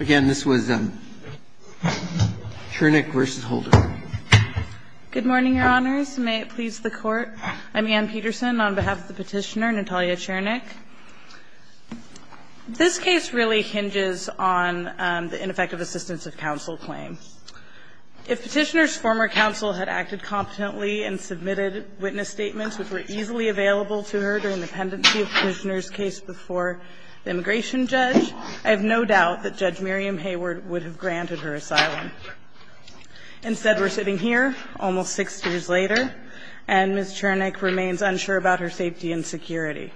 Again, this was Chernykh v. Holder. Good morning, Your Honors, and may it please the Court, I'm Anne Peterson on behalf of the petitioner, Natalya Chernykh. This case really hinges on the ineffective assistance of counsel claim. If petitioner's former counsel had acted competently and submitted witness statements which were easily available to her during the pendency of the petitioner's case before the immigration judge, I have no doubt that Judge Miriam Hayward would have granted her asylum. Instead, we're sitting here almost six years later, and Ms. Chernykh remains unsure about her safety and security.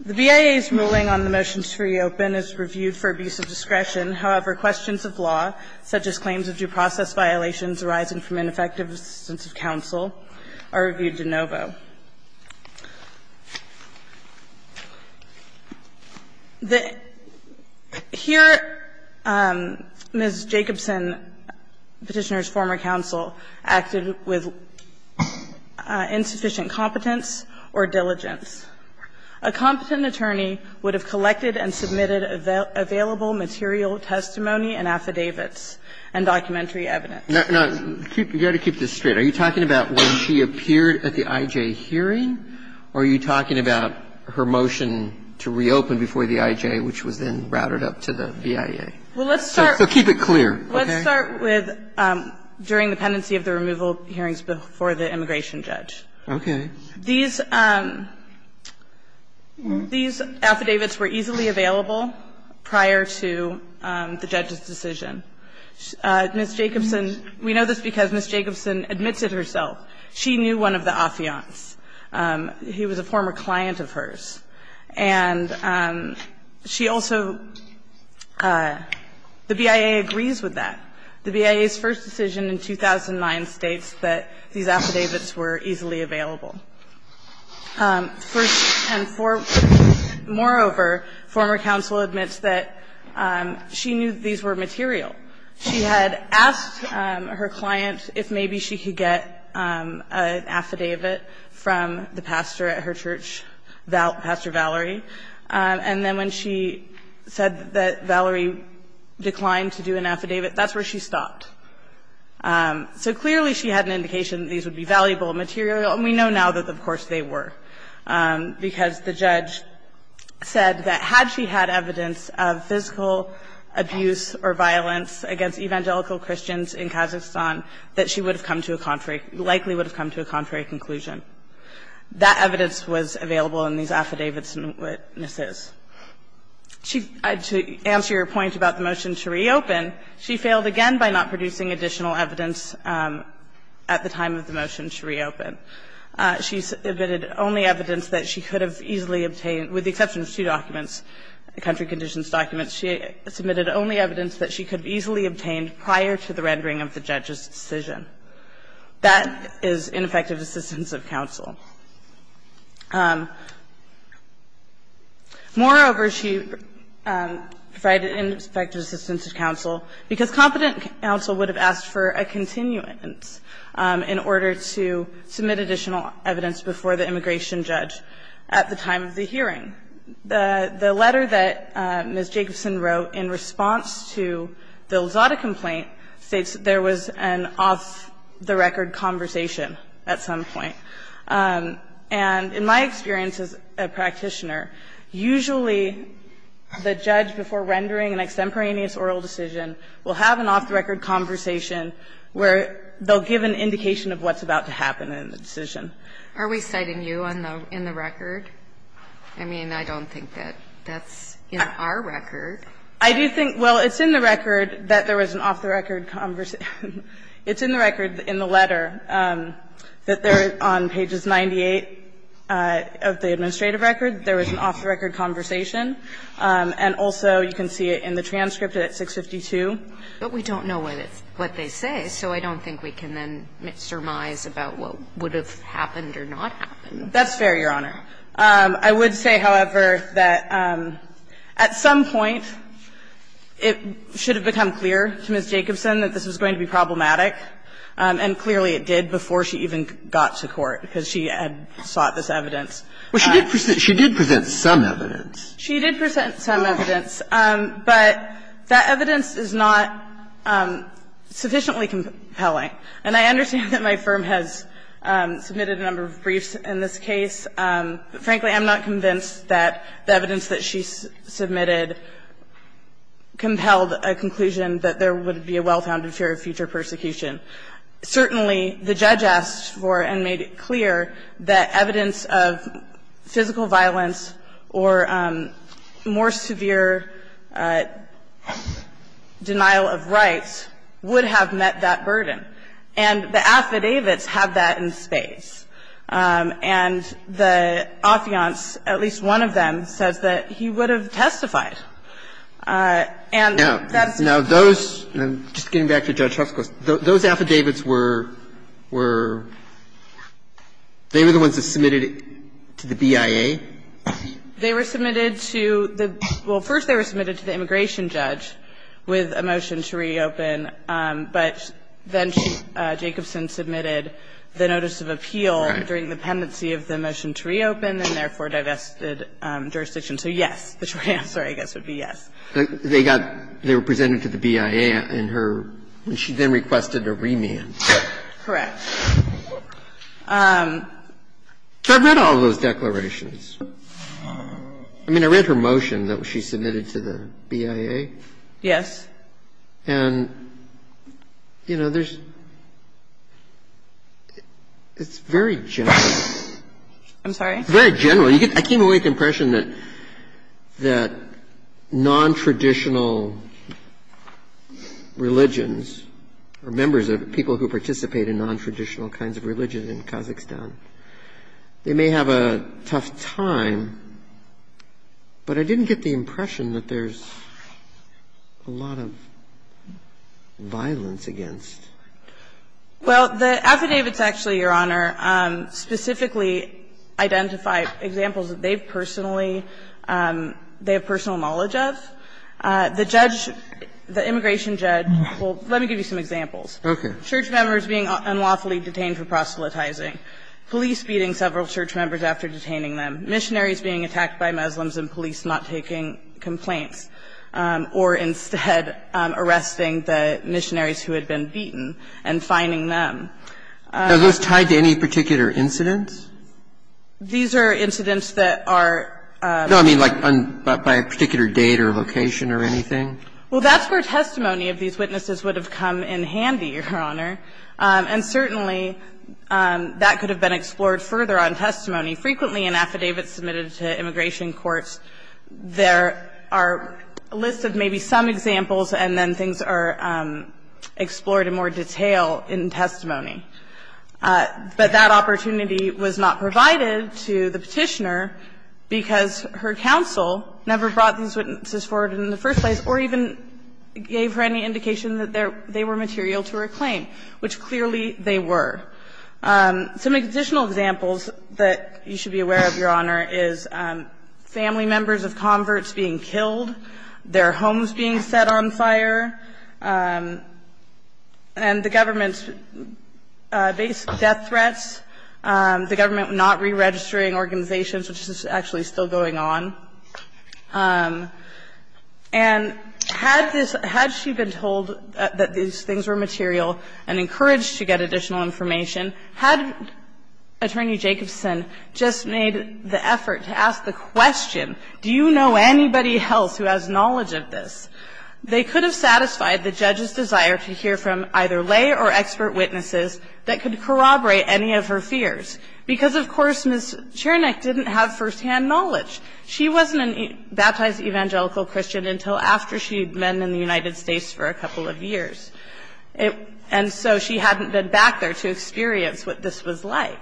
The BIA's ruling on the motions to reopen is reviewed for abusive discretion. However, questions of law, such as claims of due process violations arising from ineffective assistance of counsel, are reviewed de novo. Here, Ms. Jacobson, the petitioner's former counsel, acted with insufficient competence or diligence. A competent attorney would have collected and submitted available material testimony and affidavits and documentary evidence. Now, you've got to keep this straight. Are you talking about when she appeared at the IJ hearing, or are you talking about her motion to reopen before the IJ, which was then routed up to the BIA? So keep it clear. Okay? Let's start with during the pendency of the removal hearings before the immigration judge. Okay. These affidavits were easily available prior to the judge's decision. Ms. Jacobson – we know this because Ms. Jacobson admits it herself. She knew one of the affiants. He was a former client of hers. And she also – the BIA agrees with that. The BIA's first decision in 2009 states that these affidavits were easily available. Moreover, former counsel admits that she knew these were material. She had asked her client if maybe she could get an affidavit from the pastor at her church, Pastor Valerie, and then when she said that Valerie declined to do an affidavit, that's where she stopped. So clearly she had an indication that these would be valuable material, and we know now that, of course, they were. Because the judge said that had she had evidence of physical abuse or violence against evangelical Christians in Kazakhstan, that she would have come to a contrary – likely would have come to a contrary conclusion. That evidence was available in these affidavits and witnesses. To answer your point about the motion to reopen, she failed again by not producing additional evidence at the time of the motion to reopen. She submitted only evidence that she could have easily obtained, with the exception of two documents, country conditions documents. She submitted only evidence that she could have easily obtained prior to the rendering of the judge's decision. That is ineffective assistance of counsel. Moreover, she provided ineffective assistance of counsel because competent counsel would have asked for a continuance in order to submit additional evidence before the immigration judge at the time of the hearing. The letter that Ms. Jacobson wrote in response to the Lozada complaint states that there was an off-the-record conversation at some point. And in my experience as a practitioner, usually the judge, before rendering an extemporaneous oral decision, will have an off-the-record conversation where they'll give an indication of what's about to happen in the decision. Are we citing you in the record? I mean, I don't think that that's in our record. I do think – well, it's in the record that there was an off-the-record conversation. It's in the record in the letter that there, on pages 98 of the administrative record, there was an off-the-record conversation. And also, you can see it in the transcript at 652. But we don't know what they say, so I don't think we can then surmise about what would have happened or not happened. That's fair, Your Honor. I would say, however, that at some point it should have become clear to Ms. Jacobson that this was going to be problematic, and clearly it did before she even got to court, because she had sought this evidence. But she did present some evidence. She did present some evidence, but that evidence is not sufficiently compelling. And I understand that my firm has submitted a number of briefs in this case, but frankly, I'm not convinced that the evidence that she submitted compelled a conclusion that there would be a well-founded fear of future persecution. Certainly, the judge asked for and made it clear that evidence of physical violence or more severe denial of rights would have met that burden. And the affidavits have that in space. And the affiance, at least one of them, says that he would have testified. And that's the case. Now, those – just getting back to Judge Huff's question – those affidavits were – were – they were the ones that submitted it to the BIA. They were submitted to the – well, first they were submitted to the immigration judge with a motion to reopen, but then Jacobson submitted the notice of appeal during the pendency of the motion to reopen and therefore divested jurisdiction. So yes, the short answer, I guess, would be yes. They got – they were presented to the BIA and her – and she then requested a remand. Correct. So I've read all of those declarations. I mean, I read her motion that she submitted to the BIA. Yes. And, you know, there's – it's very general. I'm sorry? Very general. I came away with the impression that – that nontraditional religions or members of – people who participate in nontraditional kinds of religion in Kazakhstan, they may have a tough time, but I didn't get the impression that there's a lot of violence against. Well, the affidavits actually, Your Honor, specifically identify examples that they've personally – they have personal knowledge of. The judge – the immigration judge – well, let me give you some examples. Okay. Church members being unlawfully detained for proselytizing, police beating several church members after detaining them, missionaries being attacked by Muslims and police not taking complaints, or instead, arresting the missionaries who had been beaten and fining them. Are those tied to any particular incidents? These are incidents that are – No, I mean, like, by a particular date or location or anything? Well, that's where testimony of these witnesses would have come in handy, Your Honor. And certainly, that could have been explored further on testimony. Frequently, in affidavits submitted to immigration courts, there are a list of maybe some examples, and then things are explored in more detail in testimony. But that opportunity was not provided to the Petitioner because her counsel never brought these witnesses forward in the first place or even gave her any indication that they were material to her claim, which clearly they were. Some additional examples that you should be aware of, Your Honor, is family members of converts being killed, their homes being set on fire, and the government's death threats, the government not re-registering organizations, which is actually still going on. And had this – had she been told that these things were material and encouraged to get additional information, had Attorney Jacobson just made the effort to ask the question, do you know anybody else who has knowledge of this, they could have satisfied the judge's desire to hear from either lay or expert witnesses that could corroborate any of her fears. Because, of course, Ms. Chernyk didn't have firsthand knowledge. She wasn't a baptized evangelical Christian until after she had been in the United States for a couple of years. And so she hadn't been back there to experience what this was like.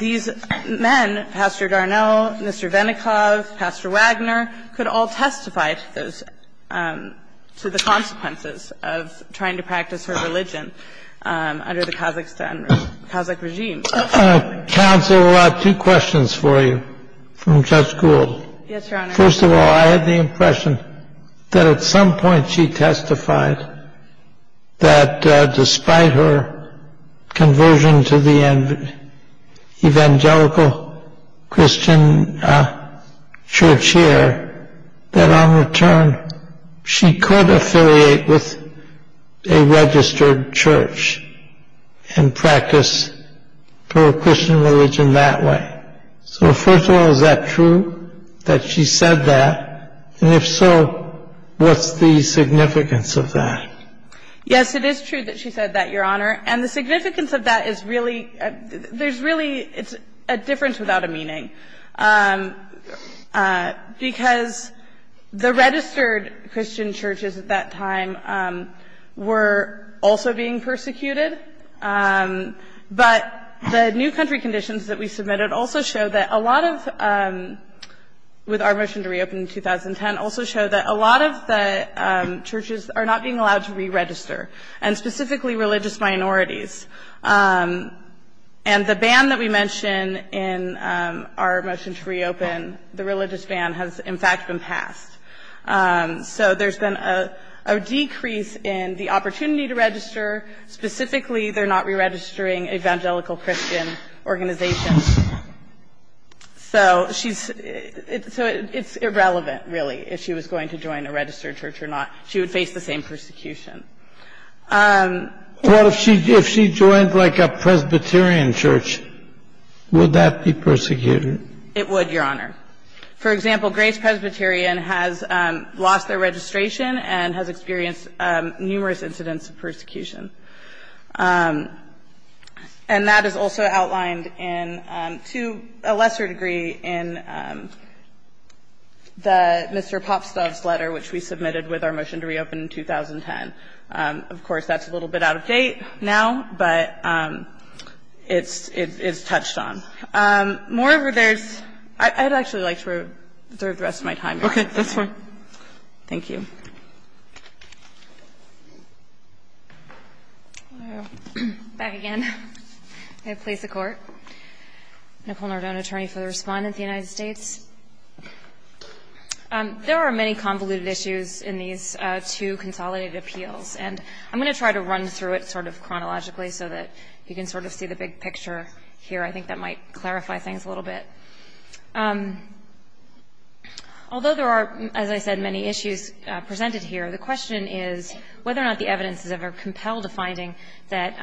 These men, Pastor Garneau, Mr. Venikoff, Pastor Wagner, could all testify to the consequences of trying to practice her religion under the Kazakhstan – Kazakh regime. Counsel, I have two questions for you from Judge Gould. Yes, Your Honor. First of all, I have the impression that at some point she testified that despite her conversion to the evangelical Christian church here, that on return she could affiliate with a registered church and practice her Christian religion that way. So first of all, is that true, that she said that? And if so, what's the significance of that? Yes, it is true that she said that, Your Honor. And the significance of that is really – there's really – it's a difference without a meaning, because the registered Christian churches at that time were also being persecuted. But the new country conditions that we submitted also show that a lot of – with our motion to reopen in 2010 – also show that a lot of the churches are not being allowed to re-register, and specifically religious minorities. And the ban that we mention in our motion to reopen, the religious ban, has in fact been passed. So there's been a decrease in the opportunity to register. Specifically, they're not re-registering evangelical Christian organizations. So she's – so it's irrelevant, really, if she was going to join a registered church or not. She would face the same persecution. Well, if she joined, like, a Presbyterian church, would that be persecuted? It would, Your Honor. For example, Grace Presbyterian has lost their registration and has experienced numerous incidents of persecution. And that is also outlined in – to a lesser degree in Mr. Popstove's letter, which we submitted with our motion to reopen in 2010. Of course, that's a little bit out of date now, but it's touched on. Moreover, there's – I'd actually like to reserve the rest of my time here. Okay. That's fine. Thank you. Back again. May it please the Court. Nicole Nardone, attorney for the Respondent of the United States. There are many convoluted issues in these two consolidated appeals. And I'm going to try to run through it sort of chronologically so that you can sort of see the big picture here. I think that might clarify things a little bit. Although there are, as I said, many issues presented here, the question is whether or not the evidence is ever compelled to finding that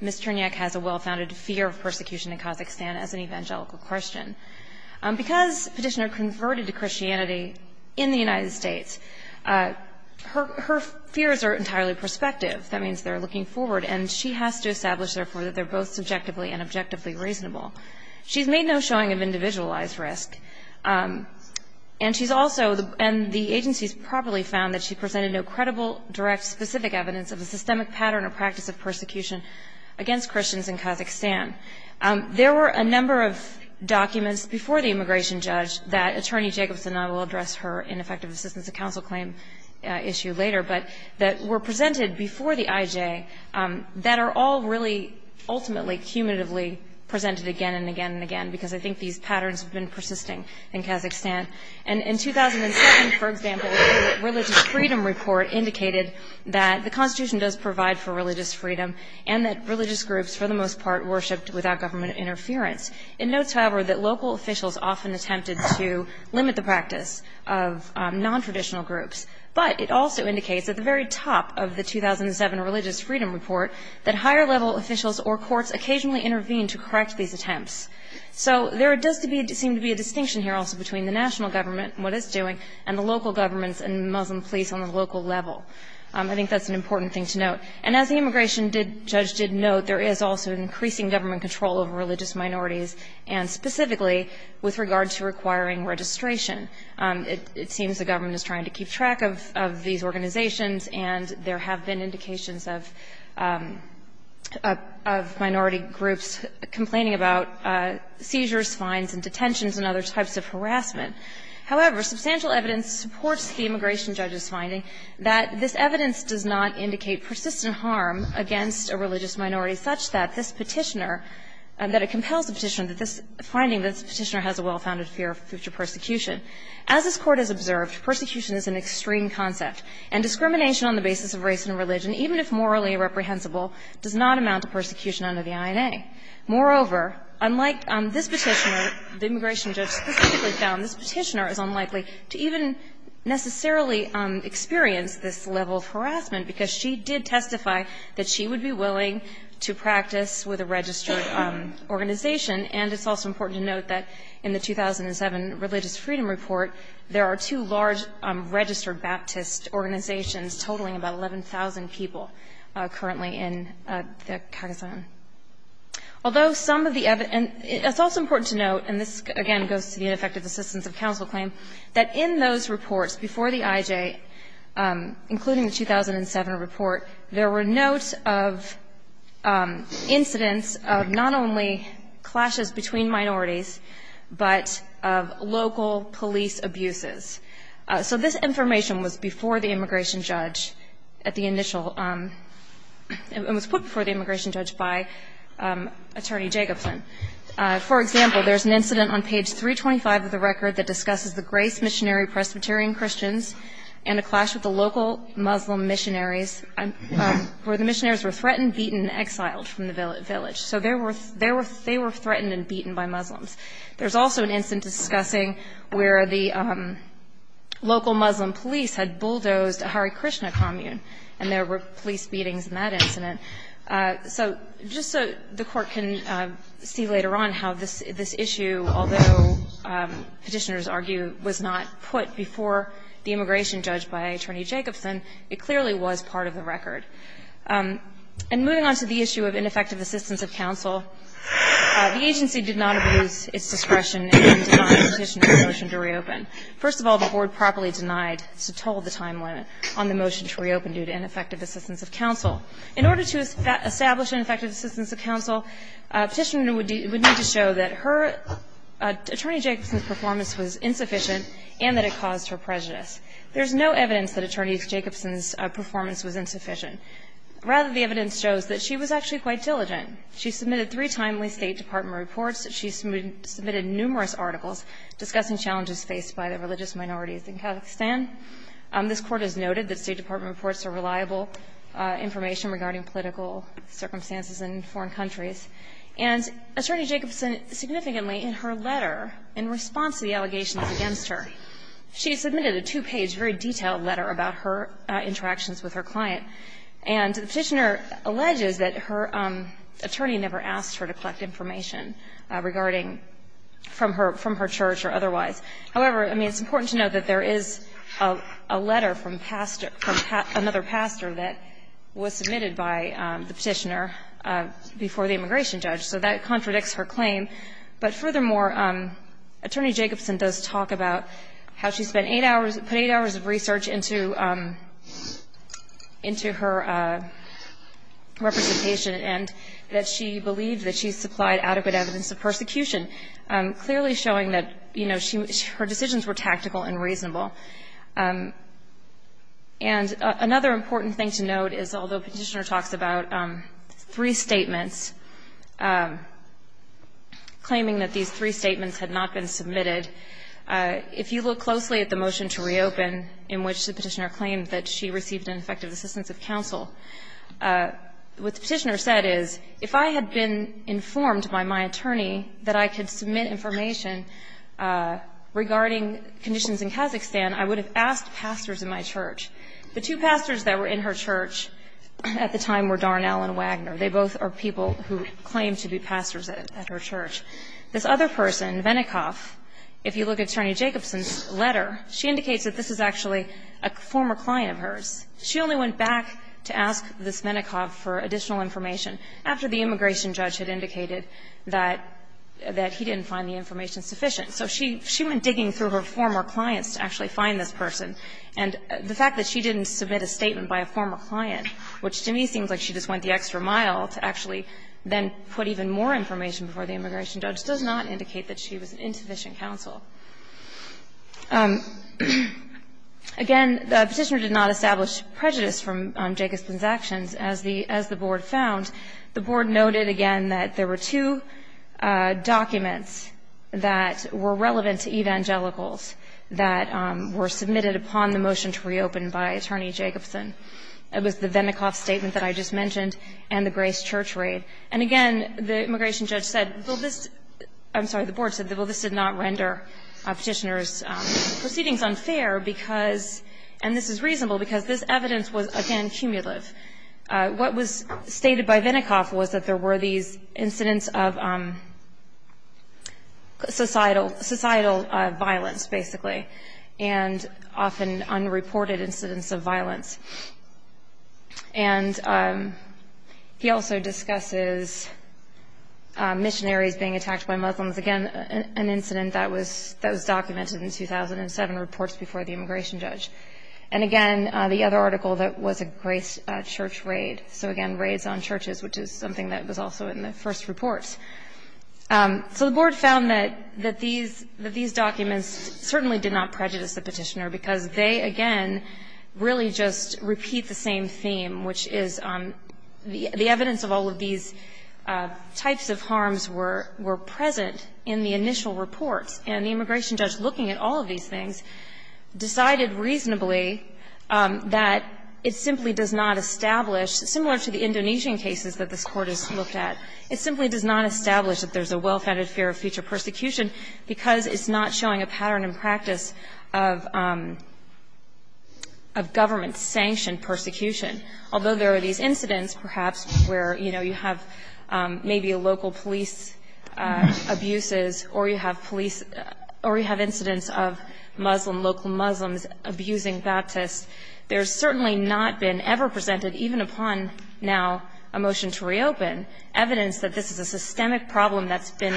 Ms. Turnyak has a well-founded fear of persecution in Kazakhstan as an evangelical Christian. Because Petitioner converted to Christianity in the United States, her fears are entirely prospective. That means they're looking forward. And she has to establish, therefore, that they're both subjectively and objectively reasonable. She's made no showing of individualized risk. And she's also – and the agencies properly found that she presented no credible, direct, specific evidence of a systemic pattern or practice of persecution against Christians in Kazakhstan. There were a number of documents before the immigration judge that Attorney Jacobson – and I will address her in effective assistance to counsel claim issue later – but that were presented before the IJ that are all really ultimately, cumulatively presented again and again and again, because I think these patterns have been persisting in Kazakhstan. And in 2007, for example, the Religious Freedom Report indicated that the Constitution does provide for religious freedom and that religious groups, for the most part, worshiped without government interference. It notes, however, that local officials often attempted to limit the practice of nontraditional groups. But it also indicates at the very top of the 2007 Religious Freedom Report that higher level officials or courts occasionally intervene to correct these attempts. So there does seem to be a distinction here also between the national government and what it's doing and the local governments and Muslim police on the local level. I think that's an important thing to note. And as the immigration judge did note, there is also an increasing government control over religious minorities, and specifically with regard to requiring registration. It seems the government is trying to keep track of these organizations, and there have been indications of minority groups complaining about seizures, fines, and detentions and other types of harassment. However, substantial evidence supports the immigration judge's finding that this does not exist in harm against a religious minority such that this Petitioner that it compels the Petitioner that this finding that this Petitioner has a well-founded fear of future persecution. As this Court has observed, persecution is an extreme concept, and discrimination on the basis of race and religion, even if morally irreprehensible, does not amount to persecution under the INA. Moreover, unlike this Petitioner, the immigration judge specifically found this Petitioner is unlikely to even necessarily experience this level of harassment because she did testify that she would be willing to practice with a registered organization. And it's also important to note that in the 2007 Religious Freedom Report, there are two large registered Baptist organizations totaling about 11,000 people currently in the Kagasan. Although some of the evidence, and it's also important to note, and this, again, goes to the ineffective assistance of counsel claim, that in those reports before the IJ, including the 2007 report, there were notes of incidents of not only clashes between minorities, but of local police abuses. So this information was before the immigration judge at the initial – it was put before the immigration judge by Attorney Jacobson. For example, there's an incident on page 325 of the record that discusses the missionary Presbyterian Christians and a clash with the local Muslim missionaries where the missionaries were threatened, beaten, and exiled from the village. So there were – they were threatened and beaten by Muslims. There's also an incident discussing where the local Muslim police had bulldozed a Hare Krishna commune, and there were police beatings in that incident. So just so the Court can see later on how this issue, although Petitioners argue was not put before the immigration judge by Attorney Jacobson, it clearly was part of the record. And moving on to the issue of ineffective assistance of counsel, the agency did not abuse its discretion in denying Petitioner a motion to reopen. First of all, the Board properly denied to toll the time limit on the motion to reopen due to ineffective assistance of counsel. In order to establish ineffective assistance of counsel, Petitioner would need to show that her – Attorney Jacobson's performance was insufficient and that it caused her prejudice. There's no evidence that Attorney Jacobson's performance was insufficient. Rather, the evidence shows that she was actually quite diligent. She submitted three timely State Department reports. She submitted numerous articles discussing challenges faced by the religious minorities in Kazakhstan. This Court has noted that State Department reports are reliable information regarding political circumstances in foreign countries. And Attorney Jacobson significantly in her letter, in response to the allegations against her, she submitted a two-page, very detailed letter about her interactions with her client. And the Petitioner alleges that her attorney never asked her to collect information regarding from her church or otherwise. However, I mean, it's important to note that there is a letter from pastor – from another pastor that was submitted by the Petitioner before the immigration judge. So that contradicts her claim. But furthermore, Attorney Jacobson does talk about how she spent eight hours – put eight hours of research into – into her representation and that she believed that she supplied adequate evidence of persecution, clearly showing that, you know, her decisions were tactical and reasonable. And another important thing to note is, although Petitioner talks about three statements, claiming that these three statements had not been submitted, if you look closely at the motion to reopen in which the Petitioner claimed that she received an effective assistance of counsel, what the Petitioner said is, if I had been informed by my attorney that I could submit information regarding conditions in Kazakhstan, I would have asked pastors in my church. The two pastors that were in her church at the time were Darnell and Wagner. They both are people who claim to be pastors at her church. This other person, Venikoff, if you look at Attorney Jacobson's letter, she indicates that this is actually a former client of hers. She only went back to ask this Venikoff for additional information after the immigration judge had indicated that – that he didn't find the information sufficient. So she – she went digging through her former clients to actually find this person. And the fact that she didn't submit a statement by a former client, which to me seems like she just went the extra mile to actually then put even more information before the immigration judge, does not indicate that she was an insufficient counsel. Again, the Petitioner did not establish prejudice from Jacobson's actions. As the – as the Board found, the Board noted, again, that there were two documents that were relevant to evangelicals that were submitted upon the motion to reopen by Attorney Jacobson. It was the Venikoff statement that I just mentioned and the Grace Church raid. And again, the immigration judge said, well, this – I'm sorry, the Board said, well, this did not render Petitioner's proceedings unfair because – and this is reasonable because this evidence was, again, cumulative. What was stated by Venikoff was that there were these incidents of societal – societal violence, basically, and often unreported incidents of violence. And he also discusses missionaries being attacked by Muslims. Again, an incident that was – that was documented in 2007 reports before the immigration judge. And again, the other article that was a Grace Church raid. So again, raids on churches, which is something that was also in the first reports. So the Board found that – that these – that these documents certainly did not prejudice the Petitioner because they, again, really just repeat the same theme, which is the evidence of all of these types of harms were – were present in the initial reports. And the immigration judge, looking at all of these things, decided reasonably that it simply does not establish, similar to the Indonesian cases that this Court has looked at, it simply does not establish that there's a well-founded fear of future persecution because it's not showing a pattern and practice of – of government-sanctioned persecution. Although there are these incidents, perhaps, where, you know, you have maybe a local police abuses, or you have police – or you have incidents of Muslim – local Muslims abusing Baptists, there's certainly not been ever presented, even upon now a motion to reopen, evidence that this is a systemic problem that's been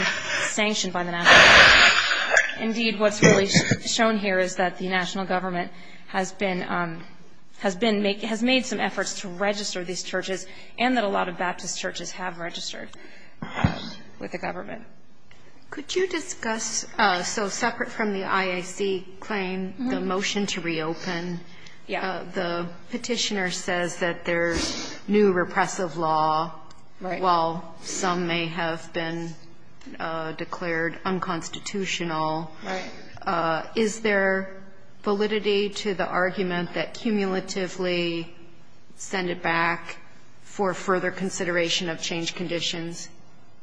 sanctioned by the national government. Indeed, what's really shown here is that the national government has been – has been – has made some efforts to register these churches and that a lot of Baptist churches have registered with the government. Could you discuss – so separate from the IAC claim, the motion to reopen, the Petitioner says that there's new repressive law, while some may have been declared unconstitutional. Is there validity to the argument that cumulatively send it back for further consideration of change conditions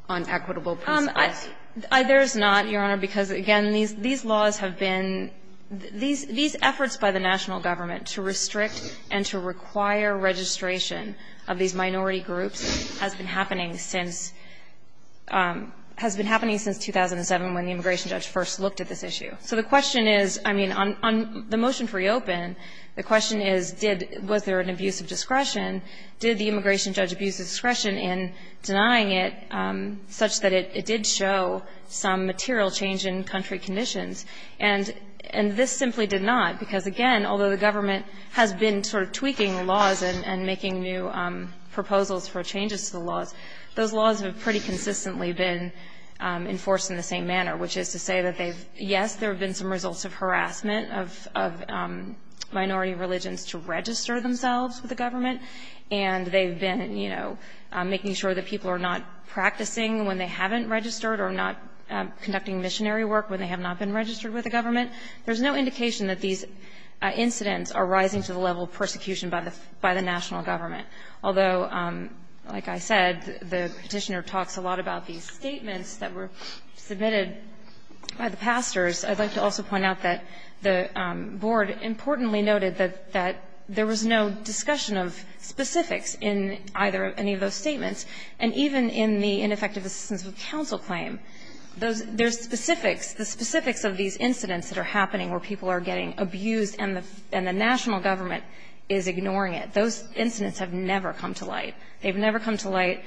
on equitable principles? There's not, Your Honor, because, again, these – these laws have been – these efforts by the national government to restrict and to require registration of these minority groups has been happening since – has been happening since 2007, when the immigration judge first looked at this issue. So the question is – I mean, on the motion to reopen, the question is, did – was there an abuse of discretion? Did the immigration judge abuse of discretion in denying it, such that it did show some material change in country conditions? And this simply did not, because, again, although the government has been sort of tweaking the laws and making new proposals for changes to the laws, those laws have pretty consistently been enforced in the same manner, which is to say that they've – yes, there have been some results of harassment of – of minority religions to register themselves with the government, and they've been, you know, making sure that people are not practicing when they haven't registered or not conducting missionary work when they have not been registered with the government. There's no indication that these incidents are rising to the level of persecution by the – by the national government, although, like I said, the Petitioner talks a lot about these statements that were submitted by the pastors. I'd like to also point out that the board importantly noted that – that there was no discussion of specifics in either any of those statements, and even in the ineffective assistance of counsel claim, those – there's specifics, the specifics of these incidents that are happening where people are getting abused and the – and the national government is ignoring it. Those incidents have never come to light. They've never come to light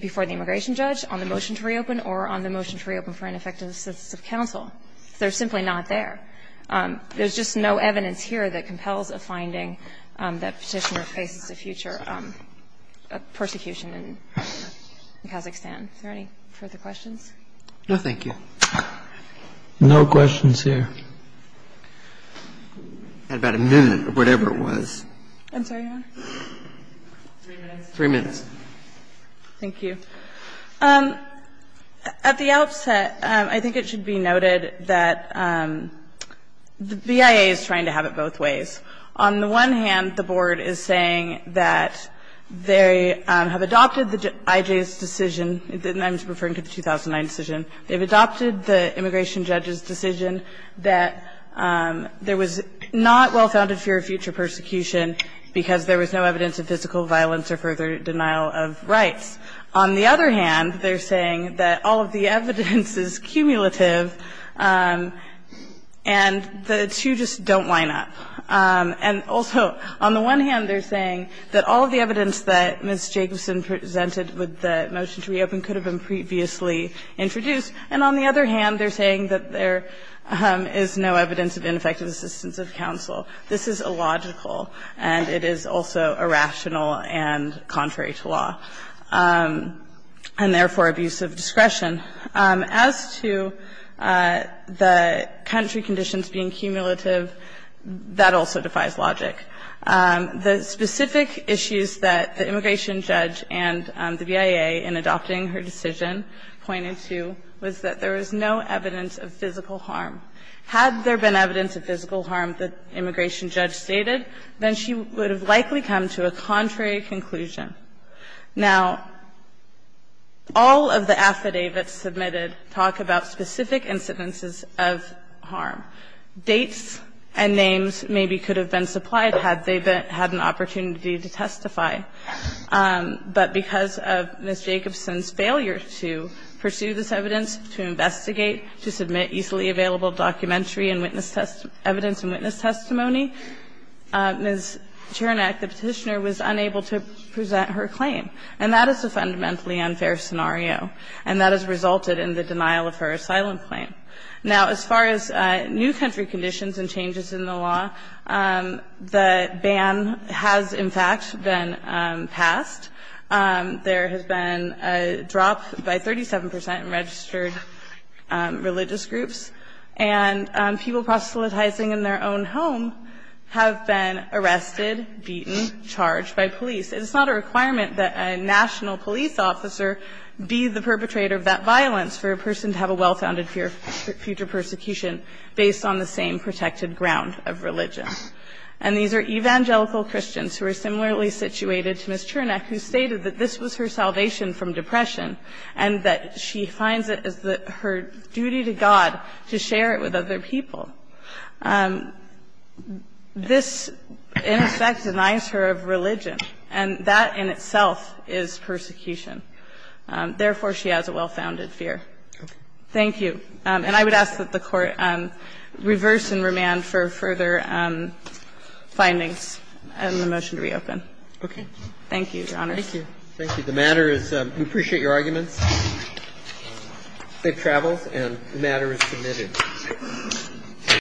before the immigration judge on the motion to reopen or on the motion to reopen for ineffective assistance of counsel. They're simply not there. There's just no evidence here that compels a finding that Petitioner faces a future persecution in Kazakhstan. Is there any further questions? No, thank you. No questions here. I had about a minute, or whatever it was. I'm sorry, Your Honor. Three minutes. Thank you. At the outset, I think it should be noted that the BIA is trying to have it both ways. On the one hand, the board is saying that they have adopted the IJ's decision – and I'm just referring to the 2009 decision – they've adopted the immigration judge's decision that there was not well-founded fear of future persecution because there was no evidence of physical violence or further denial of rights. On the other hand, they're saying that all of the evidence is cumulative and the two just don't line up. And also, on the one hand, they're saying that all of the evidence that Ms. Jacobson presented with the motion to reopen could have been previously introduced. And on the other hand, they're saying that there is no evidence of ineffective assistance of counsel. This is illogical, and it is also irrational and contrary to law. And therefore, abuse of discretion. As to the country conditions being cumulative, that also defies logic. The specific issues that the immigration judge and the BIA in adopting her decision pointed to was that there was no evidence of physical harm. Had there been evidence of physical harm that the immigration judge stated, then she would have likely come to a contrary conclusion. Now, all of the affidavits submitted talk about specific incidences of harm. Dates and names maybe could have been supplied had they been – had an opportunity to testify. But because of Ms. Jacobson's failure to pursue this evidence, to investigate, to submit easily available documentary and witness – evidence and witness testimony, Ms. Chernek, the petitioner, was unable to present her claim. And that is a fundamentally unfair scenario. And that has resulted in the denial of her asylum claim. Now, as far as new country conditions and changes in the law, the ban has, in fact, been passed. There has been a drop by 37 percent in registered religious groups. And people proselytizing in their own home have been arrested, beaten, charged by police. And it's not a requirement that a national police officer be the perpetrator of that violence for a person to have a well-founded fear of future persecution based on the same protected ground of religion. And these are evangelical Christians who are similarly situated to Ms. Chernek, who stated that this was her salvation from depression, and that she finds it as her duty to God to share it with other people. This, in effect, denies her of religion. And that in itself is persecution. Therefore, she has a well-founded fear. Thank you. And I would ask that the Court reverse and remand for further findings and the motion to reopen. Thank you, Your Honors. Roberts. Thank you. The matter is we appreciate your arguments. It travels, and the matter is submitted.